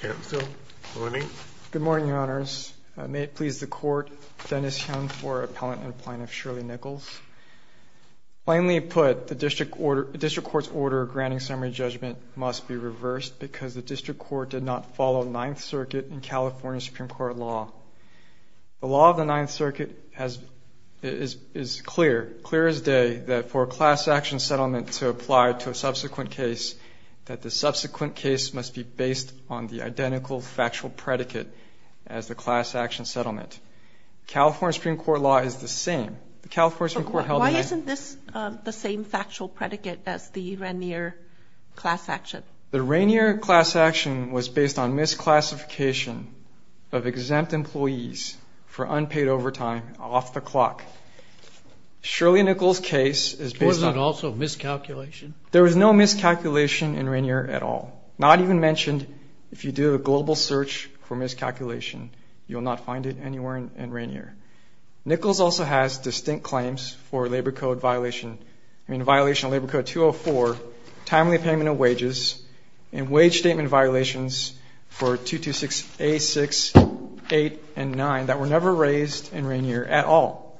Good morning, Your Honors. May it please the Court, Dennis Hyun for Appellant and Appointment of Shirley Nichols. Plainly put, the District Court's order granting summary judgment must be reversed because the District Court did not follow Ninth Circuit and California Supreme Court law. The law of the Ninth Circuit is clear, clear as day, that for a class action settlement to apply to a subsequent case, that the subsequent case must be based on the identical factual predicate as the class action settlement. California Supreme Court law is the same. The California Supreme Court held that... Why isn't this the same factual predicate as the Rainier class action? The Rainier class action was based on misclassification of exempt employees for unpaid overtime off Was there also miscalculation? There was no miscalculation in Rainier at all. Not even mentioned if you do a global search for miscalculation, you'll not find it anywhere in Rainier. Nichols also has distinct claims for labor code violation, I mean violation of Labor Code 204, timely payment of wages, and wage statement violations for 226A6, 8, and 9 that were never raised in Rainier at all.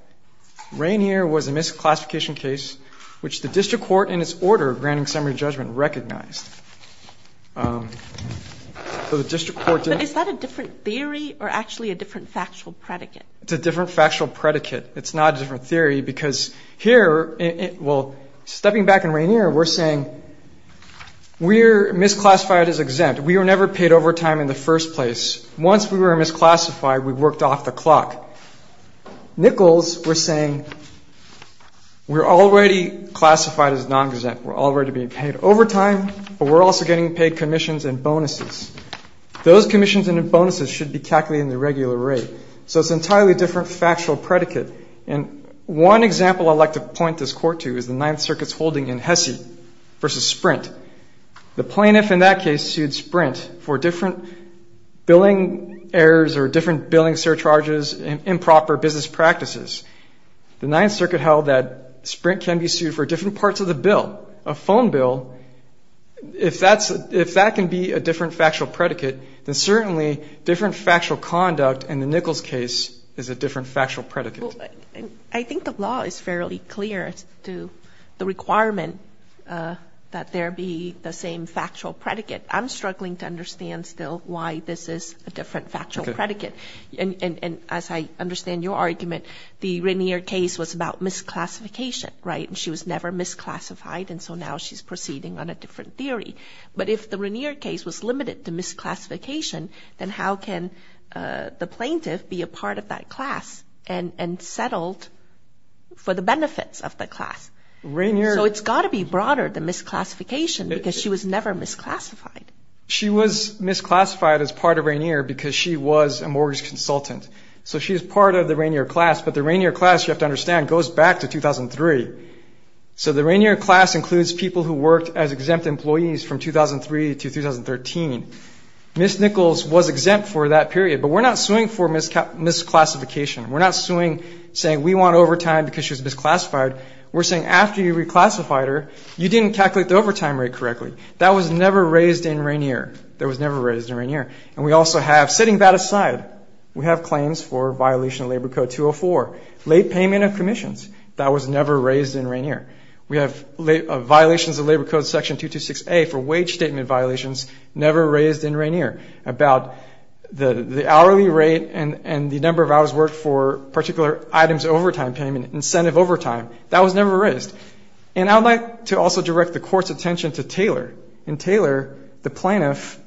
Rainier was a misclassification case which the district court in its order of granting summary judgment recognized. So the district court... But is that a different theory or actually a different factual predicate? It's a different factual predicate. It's not a different theory because here, well, stepping back in Rainier, we're saying we're misclassified as exempt. We were never paid overtime in the first place. Once we were misclassified, we worked off the clock. Nichols was saying we're already classified as non-exempt. We're already being paid overtime, but we're also getting paid commissions and bonuses. Those commissions and bonuses should be calculated in the regular rate. So it's an entirely different factual predicate. And one example I'd like to point this court to is the Ninth Circuit's holding in Hesse versus Sprint. The plaintiff in that case sued Sprint for different billing errors or different billing surcharges, improper business practices. The Ninth Circuit held that Sprint can be sued for different parts of the bill, a phone bill. If that can be a different factual predicate, then certainly different factual conduct in the Nichols case is a different factual predicate. I think the law is fairly clear as to the requirement that there be the same factual predicate. I'm struggling to understand still why this is a different factual predicate. And as I understand your argument, the Rainier case was about misclassification, right? And she was never misclassified, and so now she's proceeding on a different theory. But if the Rainier case was limited to misclassification, then how can the plaintiff be a part of that settled for the benefits of the class? So it's got to be broader than misclassification because she was never misclassified. She was misclassified as part of Rainier because she was a mortgage consultant. So she's part of the Rainier class, but the Rainier class, you have to understand, goes back to 2003. So the Rainier class includes people who worked as exempt employees from 2003 to 2013. Miss Nichols was exempt for that period, but we're not suing for misclassification. We're not suing, saying we want overtime because she was misclassified. We're saying after you reclassified her, you didn't calculate the overtime rate correctly. That was never raised in Rainier. That was never raised in Rainier. And we also have, setting that aside, we have claims for violation of Labor Code 204, late payment of commissions. That was never raised in Rainier. We have violations of Labor Code section 226A for wage statement violations never raised in Rainier about the hourly rate and the number of hours worked for particular items overtime payment, incentive overtime. That was never raised. And I'd like to also direct the court's attention to Taylor. In Taylor, the plaintiff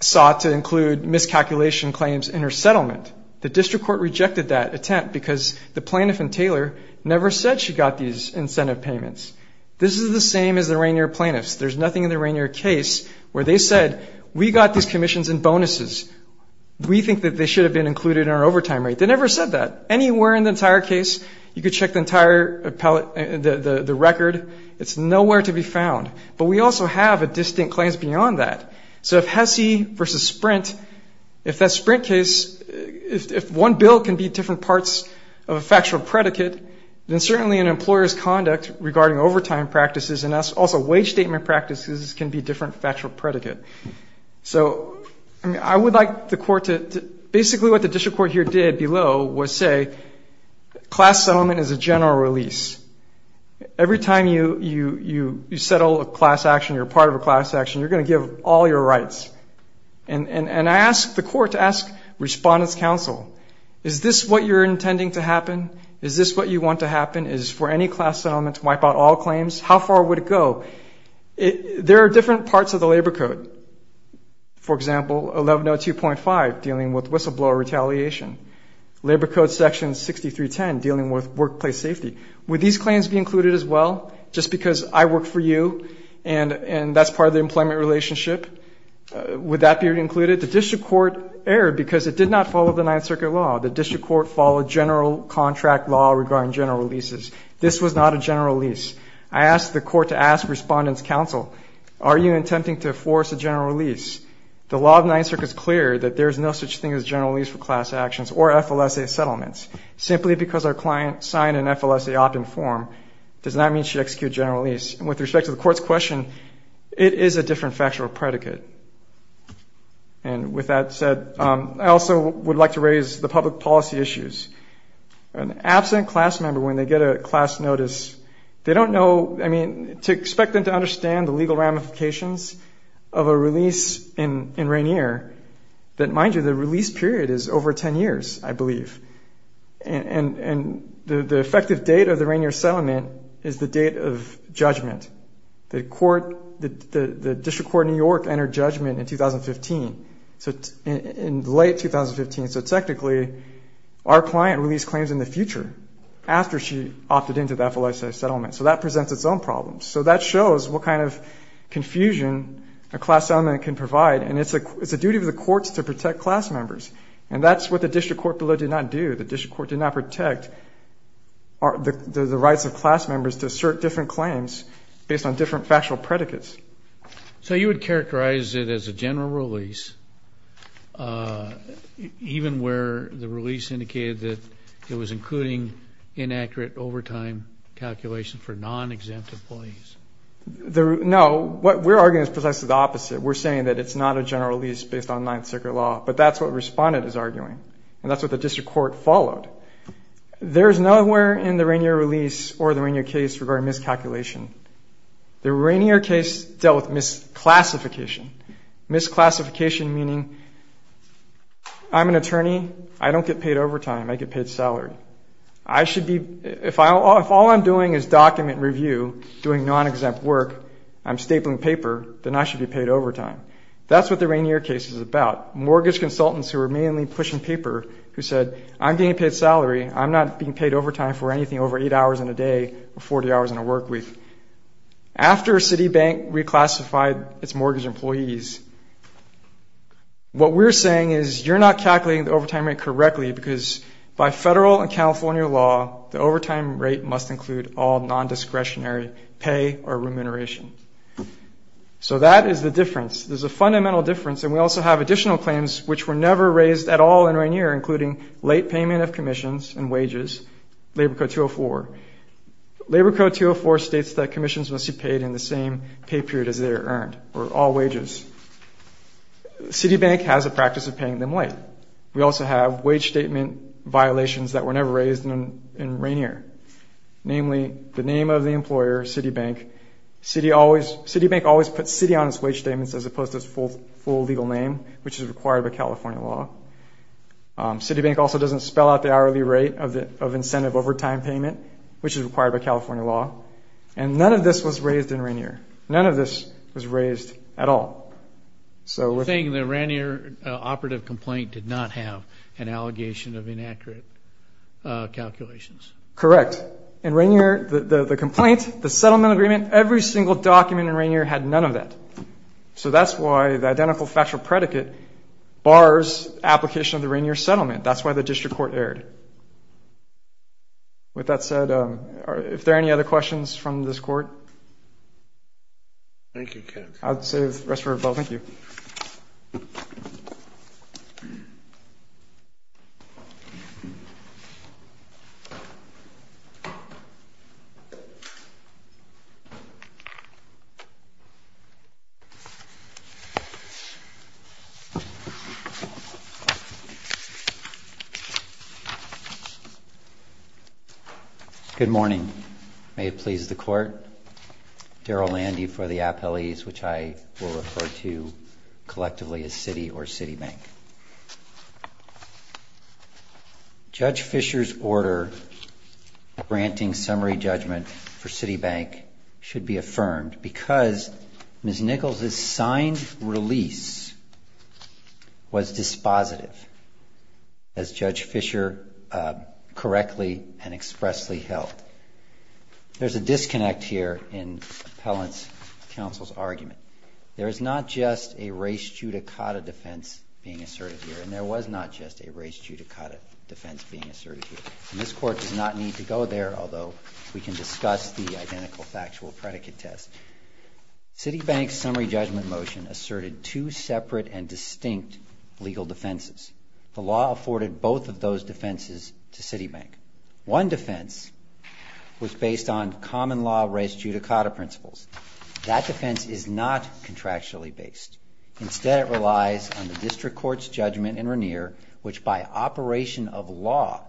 sought to include miscalculation claims in her settlement. The district court rejected that attempt because the plaintiff in Taylor never said she got these incentive payments. This is the same as the Rainier plaintiffs. There's nothing in the Rainier case where they said, we got these commissions and bonuses. We think that they should have been included in our overtime rate. They never said that. Anywhere in the entire case, you could check the entire record. It's nowhere to be found. But we also have a distinct claims beyond that. So if HESI versus Sprint, if that Sprint case, if one bill can be different parts of a factual predicate, then certainly an employer's conduct regarding overtime practices and also wage statement practices can be different factual predicate. So I would like the court to, basically what the district court here did below was say, class settlement is a general release. Every time you settle a class action, you're part of a class action, you're going to give all your rights. And I ask the court to ask Respondent's Counsel, is this what you're intending to do? Is this what you want to happen? Is for any class settlement to wipe out all claims? How far would it go? There are different parts of the labor code. For example, 1102.5, dealing with whistleblower retaliation. Labor code section 6310, dealing with workplace safety. Would these claims be included as well? Just because I work for you and that's part of the employment relationship, would that be included? The district court erred because it did not follow the Ninth Circuit law. The district court followed general contract law regarding general releases. This was not a general release. I ask the court to ask Respondent's Counsel, are you intending to force a general release? The law of the Ninth Circuit is clear that there is no such thing as general release for class actions or FLSA settlements. Simply because our client signed an FLSA opt-in form does not mean she execute general release. And with respect to the court's question, it is a different factual predicate. And with that said, I also would like to raise the public policy issues. An absent class member, when they get a class notice, they don't know, I mean, to expect them to understand the legal ramifications of a release in Rainier that, mind you, the release period is over 10 years, I believe. And the effective date of the Rainier settlement is the date of judgment. The district court in New York entered judgment in late 2015. So technically, our client released claims in the future after she opted into the FLSA settlement. So that presents its own problems. So that shows what kind of confusion a class settlement can provide. And it's the duty of the courts to protect class members. And that's what the district court below did not do. The district court did not protect the rights of class members to assert different claims based on different factual predicates. So you would characterize it as a general release, even where the release indicated that it was including inaccurate overtime calculations for non-exempt employees? No. What we're arguing is precisely the opposite. We're saying that it's not a general release based on Ninth Circuit law. But that's what Respondent is arguing. And that's what the Rainier case dealt with, misclassification. Misclassification meaning, I'm an attorney, I don't get paid overtime, I get paid salary. If all I'm doing is document review, doing non-exempt work, I'm stapling paper, then I should be paid overtime. That's what the Rainier case is about. Mortgage consultants who are mainly pushing paper who said, I'm getting paid salary, I'm not being paid overtime for anything over eight hours in a day before three hours in a work week. After Citibank reclassified its mortgage employees, what we're saying is you're not calculating the overtime rate correctly because by federal and California law, the overtime rate must include all non-discretionary pay or remuneration. So that is the difference. There's a fundamental difference. And we also have additional claims which were never raised at all in Rainier, including late payment of commissions and CITO 204 states that commissions must be paid in the same pay period as they are earned or all wages. Citibank has a practice of paying them late. We also have wage statement violations that were never raised in Rainier. Namely, the name of the employer, Citibank, Citibank always puts city on its wage statements as opposed to its full legal name, which is required by California law. Citibank also doesn't spell out the hourly rate of incentive overtime payment, which is required by California law. And none of this was raised in Rainier. None of this was raised at all. So you're saying the Rainier operative complaint did not have an allegation of inaccurate calculations? Correct. In Rainier, the complaint, the settlement agreement, every single document in Rainier had none of that. So that's why the identical factual predicate bars application of the district court erred. With that said, if there are any other questions from this court? Thank you, Ken. I'll say the rest of our vote. Thank you. Good morning. May it please the court. Daryl Landy for the appellees, which I will refer to collectively as Citi or Citibank. Judge Fischer's order granting summary judgment for Citibank should be affirmed because Ms. Nichols' signed release was dispositive, as Judge Fischer correctly and expressly held. There's a disconnect here in Appellant's counsel's argument. There is not just a race judicata defense being asserted here, and there was not just a race judicata defense being asserted here. And this court does not need to go there, although we can discuss the identical factual predicate test. Citibank's summary judgment motion asserted two separate and distinct legal defenses. The law afforded both of those defenses to Citibank. One defense was based on common law race judicata principles. That defense is not contractually based. Instead, it relies on the district court's judgment in Regnier, which by operation of law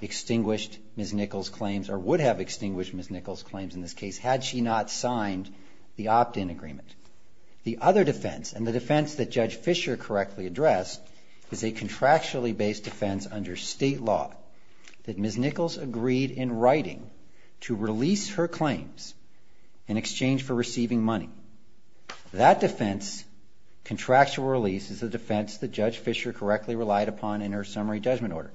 extinguished Ms. Nichols' claims, or would have extinguished Ms. Nichols' claims in this case, had she not signed the opt-in agreement. The other defense, and the defense that Judge Fischer correctly addressed, is a contractually based defense under state law that Ms. Nichols agreed in writing to release her claims in exchange for receiving money. That defense, contractual release, is a defense that Judge Fischer correctly relied upon in her summary judgment order.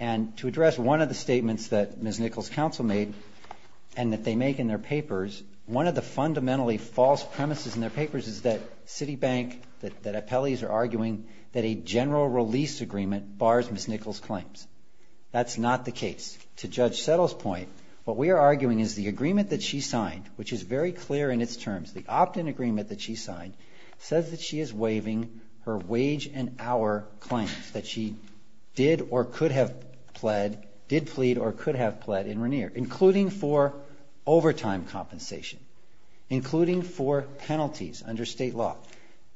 And to address one of the statements that Ms. Nichols' counsel made, and that they make in their papers, one of the fundamentally false premises in their papers is that Citibank, that appellees are arguing that a general release agreement bars Ms. Nichols' claims. That's not the case. To Judge Settle's point, what we are arguing is the agreement that she signed, which is very clear in its terms, the opt-in agreement that she signed, says that she is waiving her wage and hour claims that she did or could have pled, did plead or could have pled in overtime compensation, including for penalties under state law.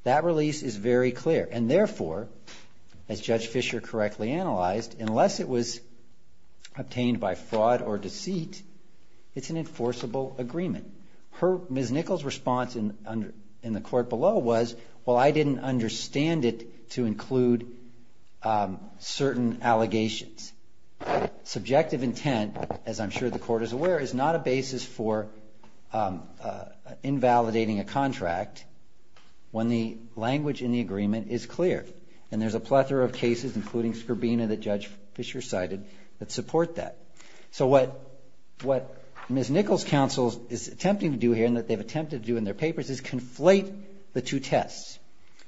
That release is very clear, and therefore, as Judge Fischer correctly analyzed, unless it was obtained by fraud or deceit, it's an enforceable agreement. Ms. Nichols' response in the court below was, well, I didn't understand it to include certain allegations. Subjective intent, as I'm sure the court is aware, is not a basis for invalidating a contract when the language in the agreement is clear. And there's a plethora of cases, including Skrbina that Judge Fischer cited, that support that. So what Ms. Nichols' counsel is attempting to do here, and that they've attempted to do in their papers, is conflate the two tests.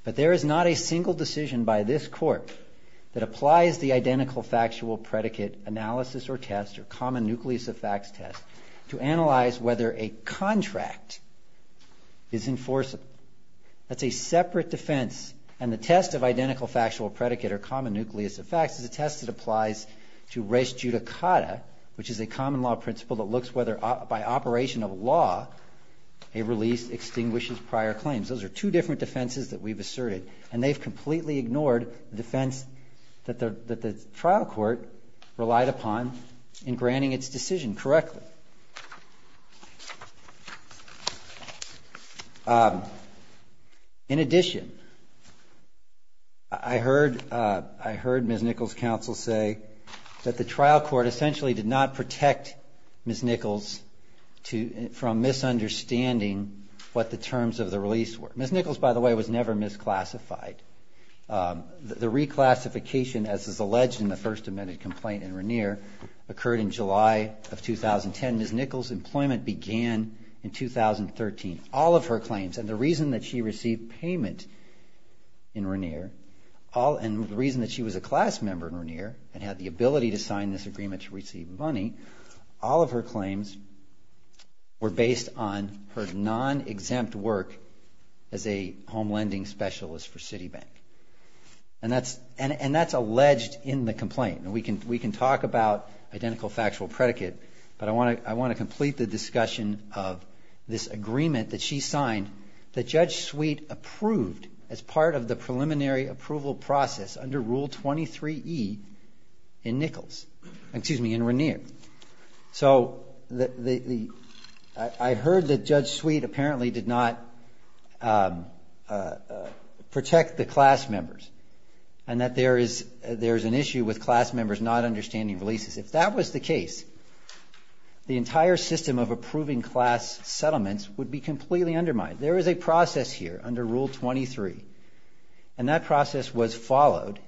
But there is not a single decision by this court that applies the identical factual predicate analysis or test, or common nucleus of facts test, to analyze whether a contract is enforceable. That's a separate defense. And the test of identical factual predicate, or common nucleus of facts, is a test that applies to res judicata, which is a common law principle that looks whether, by operation of law, a release extinguishes prior claims. Those are two different defenses that we've asserted. And they've completely ignored the defense that the trial court relied upon in granting its decision correctly. In addition, I heard Ms. Nichols' counsel say that the trial court essentially did not Ms. Nichols, by the way, was never misclassified. The reclassification, as is alleged in the first amended complaint in Regnier, occurred in July of 2010. Ms. Nichols' employment began in 2013. All of her claims, and the reason that she received payment in Regnier, and the reason that she was a class member in Regnier, and had the ability to sign this agreement to as a home lending specialist for Citibank. And that's alleged in the complaint. And we can talk about identical factual predicate, but I want to complete the discussion of this agreement that she signed that Judge Sweet approved as part of the preliminary approval process under Rule 23E in Nichols, excuse me, in Regnier. So I heard that Judge Sweet apparently did not protect the class members, and that there is an issue with class members not understanding releases. If that was the case, the entire system of approving class settlements would be completely undermined. There is a process here under Rule 23, and that process was followed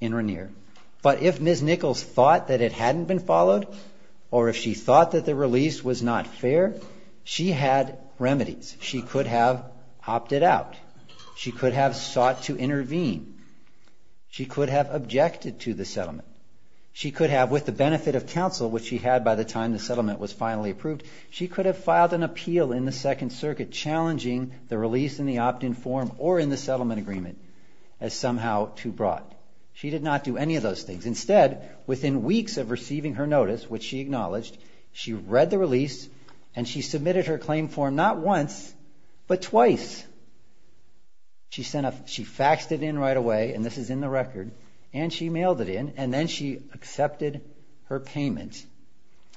in Regnier. But if Ms. Nichols thought that it hadn't been followed, or if she thought that the release was not fair, she had remedies. She could have opted out. She could have sought to intervene. She could have objected to the settlement. She could have, with the benefit of counsel, which she had by the time the settlement was finally approved, she could have filed an appeal in the Second Circuit challenging the release in the opt-in form or in the settlement agreement as somehow too broad. She did not do any of those things. Instead, within weeks of receiving her notice, which she acknowledged, she read the release and she submitted her claim form not once, but twice. She faxed it in right away, and this is in the record, and she mailed it in, and then she accepted her payment.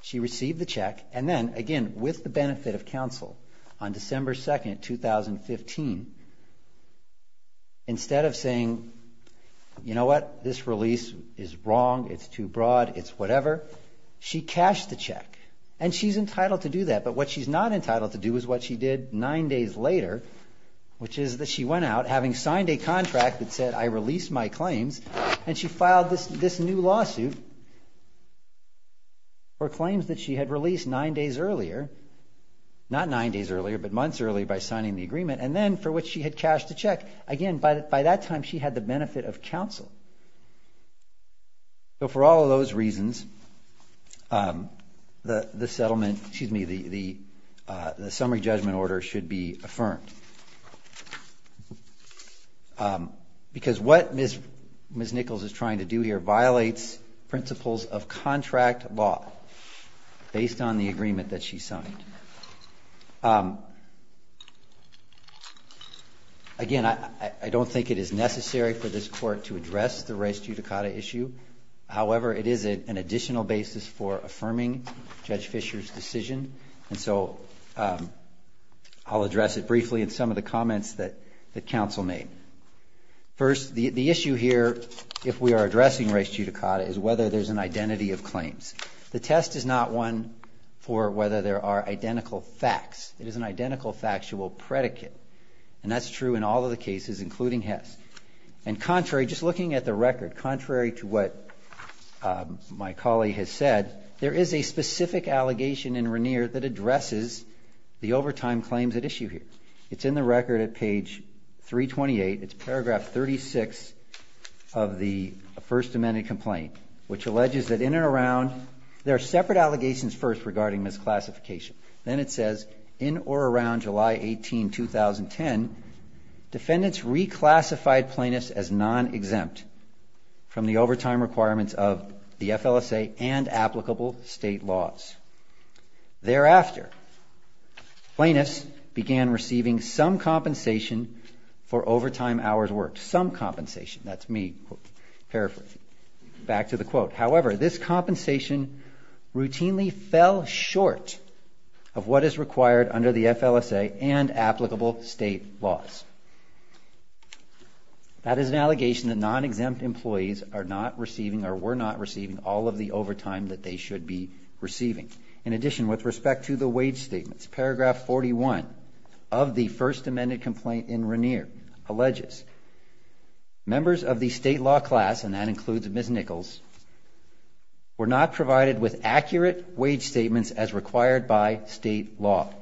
She received the check, and then, again, with the benefit of counsel, on December 2, 2015, instead of saying, you know what, this release is wrong, it's too broad, it's whatever, she cashed the check. And she's entitled to do that, but what she's not entitled to do is what she did nine days later, which is that she went out, having signed a contract that said, I release my claims, and she filed this new lawsuit for claims that she had released nine days earlier, not nine days earlier, but months earlier by signing the agreement, and then for which she had cashed the check. Again, by that time, she had the benefit of counsel. So for all of those reasons, the summary judgment order should be affirmed, because what Ms. Nichols is trying to do here violates principles of contract law based on the agreement that she signed. Again, I don't think it is necessary for this court to address the res judicata issue. However, it is an additional basis for affirming Judge Fischer's decision, and so I'll address it briefly in some of the comments that counsel made. First, the issue here, if we are addressing res judicata, is whether there's an identity of claims. The test is not one for whether there are identical facts. It is an identical factual predicate, and that's true in all of the cases, including Hess. And contrary, just looking at the record, contrary to what my colleague has said, there is a specific allegation in Regnier that addresses the overtime claims at issue here. It's in the record at page 328. It's paragraph 36 of the First Amendment complaint, which alleges that in and around there are separate allegations first regarding misclassification. Then it says, in or around July 18, 2010, defendants reclassified plaintiffs as non-exempt from the overtime requirements of the FLSA and applicable state laws. Thereafter, plaintiffs began receiving some compensation for overtime hours worked, some compensation. That's me paraphrasing. Back to the quote. However, this compensation routinely fell short of what is required under the FLSA and applicable state laws. That is an allegation that non-exempt employees are not receiving or were not receiving all of the overtime that they should be receiving. In addition, with respect to the wage statements, paragraph 41 of the First Amendment complaint in Regnier alleges members of the state law class, and that includes Ms. Nichols, were not provided with accurate wage statements as required by state law.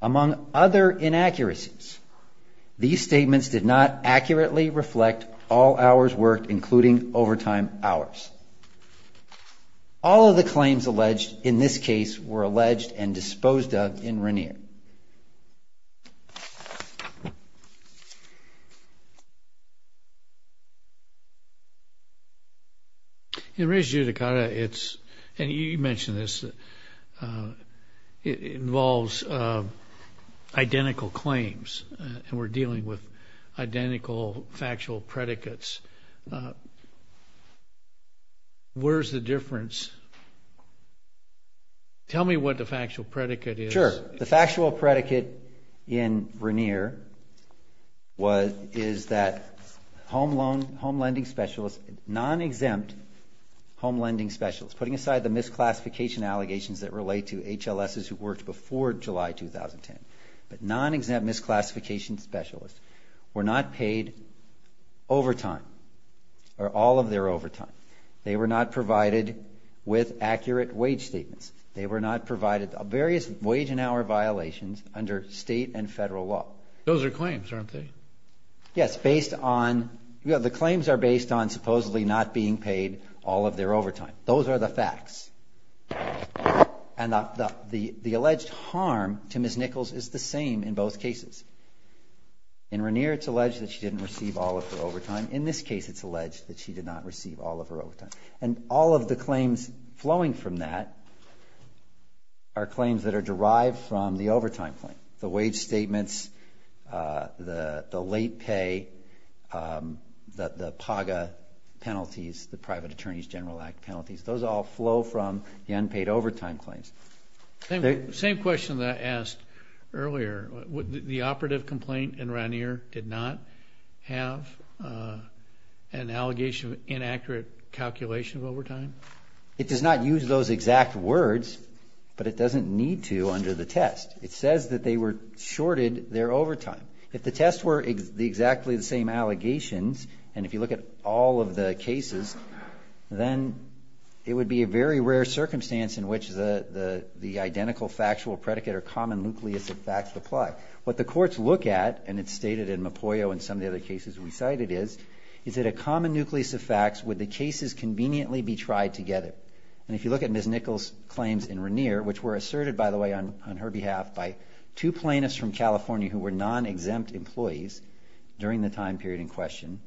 Among other inaccuracies, these statements did not accurately reflect all hours worked, including overtime hours. All of the claims alleged in this case were alleged and disposed of in Regnier. In Res Judicata, it's, and you mentioned this, it involves identical claims and we're dealing with identical factual predicates. Where's the difference? Tell me what the factual predicate is. Sure. The factual predicate in Regnier was, is that home loan, home lending specialists, non-exempt home lending specialists, putting aside the misclassification allegations that relate to HLSs who worked before July 2010, but non-exempt misclassification specialists were not paid overtime or all of their overtime. They were not provided with accurate wage statements. They were not provided various wage and hour violations under state and federal law. Those are claims, aren't they? Yes, based on, the claims are based on supposedly not being paid all of their overtime. Those are the facts. And the alleged harm to Ms. Nichols is the same in both cases. In Regnier, it's alleged that she didn't receive all of her overtime. In this case, it's alleged that she did not receive all of her overtime. And all of the claims flowing from that are claims that are derived from the overtime claim. The wage statements, the late pay, the PAGA penalties, the Private Attorneys General Act penalties, those all flow from the unpaid overtime claims. Same question that I asked earlier. The operative complaint in Regnier did not have an allegation of inaccurate calculation of overtime? It does not use those exact words, but it doesn't need to under the test. It says that they were shorted their overtime. If the tests were exactly the same allegations, and if you look at all of the cases, then it would be a very rare circumstance in which the identical factual predicate or common nucleus of facts apply. What the courts look at, and it's stated in Mopoyo and some of the other cases we cited, is that a common nucleus of facts would the cases conveniently be tried together. And if you look at Ms. Nichols' claims in Regnier, which were asserted, by the way, on her behalf, by two plaintiffs from California who were non-exempt employees during the time period in question,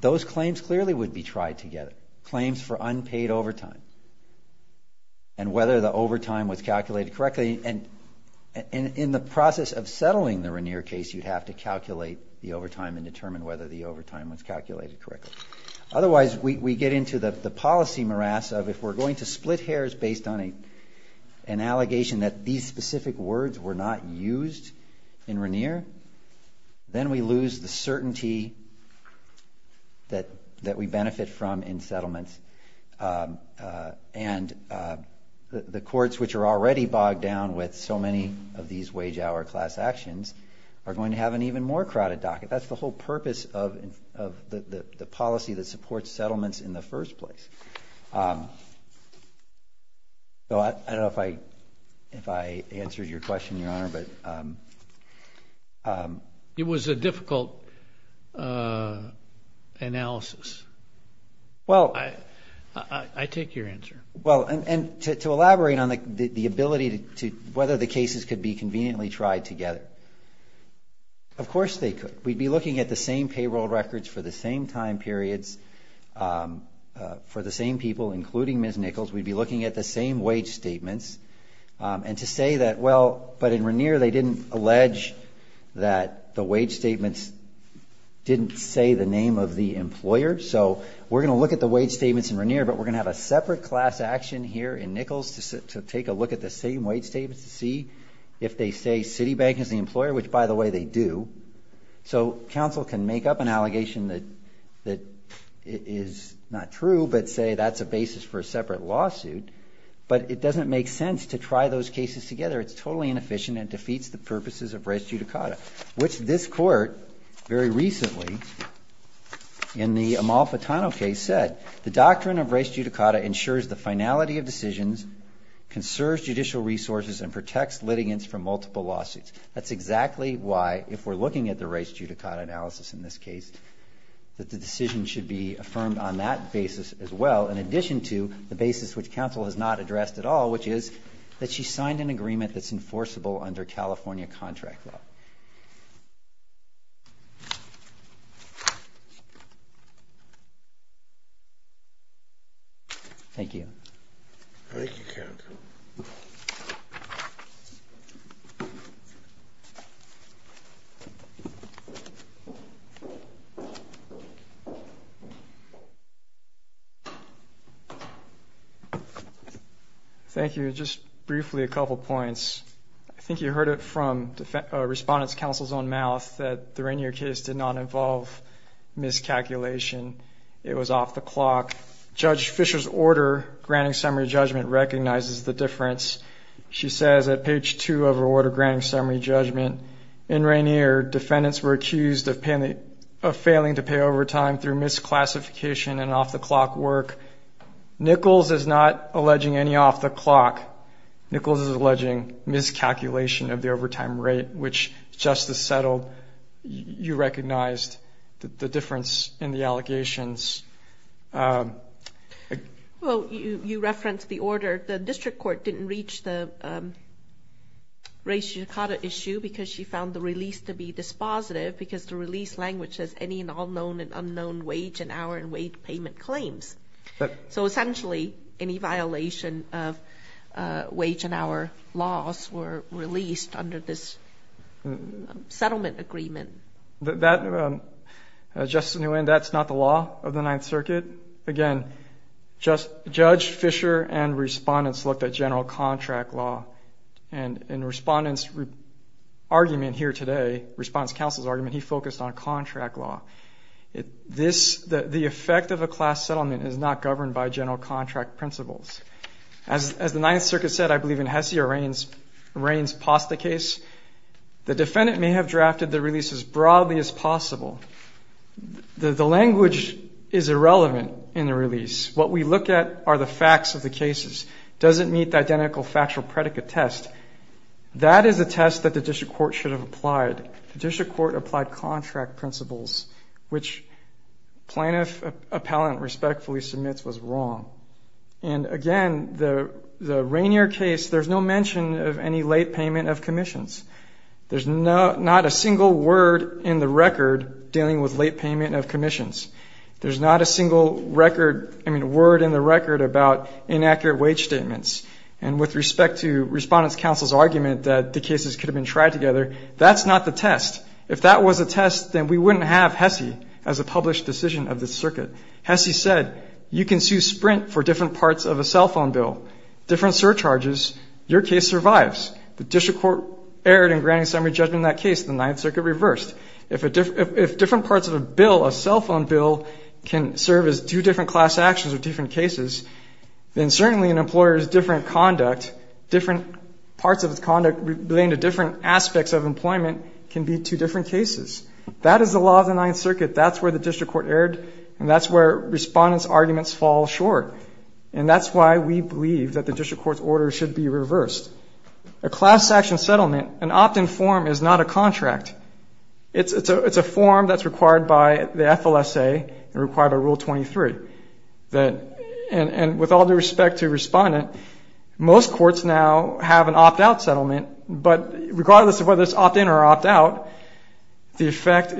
those claims clearly would be tried together. Claims for unpaid overtime and whether the overtime was calculated correctly. And in the process of settling the Regnier case, you'd have to calculate the overtime and determine whether the overtime was calculated correctly. Otherwise, we get into the policy morass of if we're going to split hairs based on an allegation that these specific words were not used in Regnier, then we lose the certainty that we benefit from in settlements. And the courts, which are already bogged down with so many of these wage-hour class actions, are going to have an even more crowded docket. That's the whole purpose of the policy that supports settlements in the first place. I don't know if I answered your question, Your Honor. It was a difficult analysis. I take your answer. Well, and to elaborate on the ability to whether the cases could be conveniently tried together, of course they could. We'd be looking at the same payroll records for the same time periods for the same people, including Ms. Nichols. We'd be looking at the same wage statements. And to say that, well, but in Regnier they didn't allege that the wage statements didn't say the name of the employer. So we're going to look at the wage statements in Regnier, but we're going to have a separate class action here in Nichols to take a look at the same wage statements to see if they say Citibank is the employer, which, by the way, they do. So counsel can make up an allegation that is not true, but say that's a basis for a separate lawsuit. But it doesn't make sense to try those cases together. It's totally inefficient and defeats the purposes of res judicata, which this court very recently in the Amalfitano case said, the doctrine of res judicata ensures the finality of decisions, conserves judicial resources, and protects litigants from multiple lawsuits. That's exactly why, if we're looking at the res judicata analysis in this case, that the decision should be affirmed on that basis as well, in addition to the basis which counsel has not addressed at all, which is that she signed an agreement that's enforceable under California contract law. Thank you. Thank you, counsel. Thank you. Thank you. Just briefly a couple points. I think you heard it from Respondent's counsel's own mouth that the Rainier case did not involve miscalculation. It was off the clock. Judge Fisher's order granting summary judgment recognizes the difference. She says at page 2 of her order granting summary judgment, in Rainier defendants were accused of failing to pay overtime through misclassification and off-the-clock work. Nichols is not alleging any off-the-clock. Nichols is alleging miscalculation of the overtime rate, which Justice settled. You recognized the difference in the allegations. Well, you referenced the order. The district court didn't reach the res judicata issue because she found the release to be dispositive because the release language says any and all known and unknown wage and hour and wage payment claims. So essentially any violation of wage and hour laws were released under this settlement agreement. Justice Nguyen, that's not the law of the Ninth Circuit. Again, Judge Fisher and Respondents looked at general contract law. And Respondent's argument here today, Respondent's counsel's argument, he focused on contract law. The effect of a class settlement is not governed by general contract principles. As the Ninth Circuit said, I believe in Hessia Raine's Posta case, the defendant may have drafted the release as broadly as possible. The language is irrelevant in the release. What we look at are the facts of the cases. Does it meet the identical factual predicate test? That is a test that the district court should have applied. The district court applied contract principles, which plaintiff appellant respectfully submits was wrong. And again, the Rainier case, there's no mention of any late payment of commissions. There's not a single word in the record dealing with late payment of commissions. There's not a single record, I mean, word in the record about inaccurate wage statements. And with respect to Respondent's counsel's argument that the cases could have been tried together, that's not the test. If that was the test, then we wouldn't have Hessie as a published decision of this circuit. Hessie said, you can sue Sprint for different parts of a cell phone bill, different surcharges, your case survives. The district court erred in granting summary judgment in that case. The Ninth Circuit reversed. If different parts of a bill, a cell phone bill, can serve as two different class actions or different cases, then certainly an employer's different conduct, different parts of its conduct relating to different aspects of employment can be two different cases. That is the law of the Ninth Circuit. That's where the district court erred, and that's where Respondent's arguments fall short. And that's why we believe that the district court's order should be reversed. A class action settlement, an opt-in form, is not a contract. It's a form that's required by the FLSA and required by Rule 23. And with all due respect to Respondent, most courts now have an opt-out settlement, but regardless of whether it's opt-in or opt-out, the effect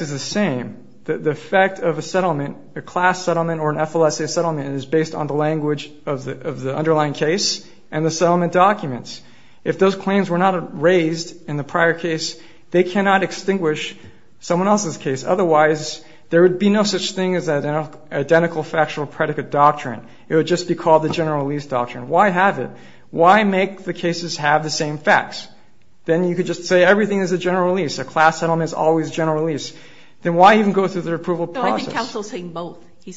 is the same. The effect of a settlement, a class settlement or an FLSA settlement, is based on the language of the underlying case and the settlement documents. If those claims were not raised in the prior case, they cannot extinguish someone else's case. Otherwise, there would be no such thing as an identical factual predicate doctrine. It would just be called the general release doctrine. Why have it? Why make the cases have the same facts? Then you could just say everything is a general release. A class settlement is always a general release. Then why even go through the approval process? No, I think counsel's saying both. He's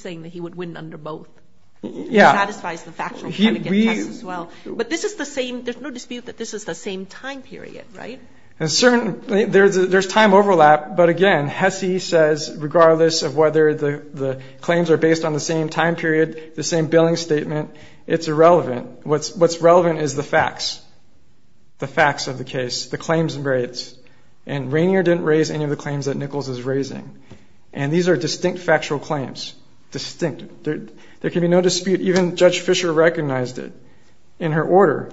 saying that he would win under both. Yeah. He satisfies the factual predicate test as well. But this is the same. There's no dispute that this is the same time period, right? There's time overlap, but, again, Hesse says, regardless of whether the claims are based on the same time period, the same billing statement, it's irrelevant. What's relevant is the facts, the facts of the case, the claims rates. And Rainier didn't raise any of the claims that Nichols is raising. And these are distinct factual claims, distinct. There can be no dispute. Even Judge Fischer recognized it in her order.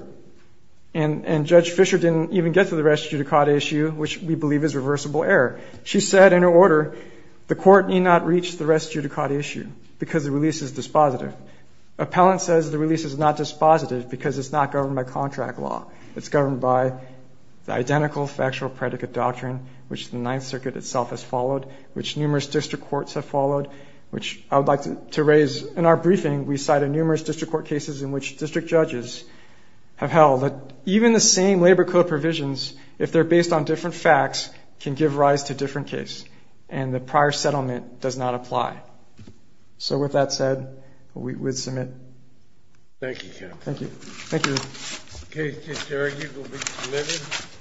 And Judge Fischer didn't even get to the res judicata issue, which we believe is reversible error. She said in her order the court need not reach the res judicata issue because the release is dispositive. Appellant says the release is not dispositive because it's not governed by contract law. It's governed by the identical factual predicate doctrine, which the Ninth Circuit itself has followed, which numerous district courts have followed, which I would like to raise in our briefing. We cited numerous district court cases in which district judges have held that even the same labor code provisions, if they're based on different facts, can give rise to different cases. And the prior settlement does not apply. So with that said, we would submit. Thank you, counsel. Thank you. Thank you. Okay. Thank you.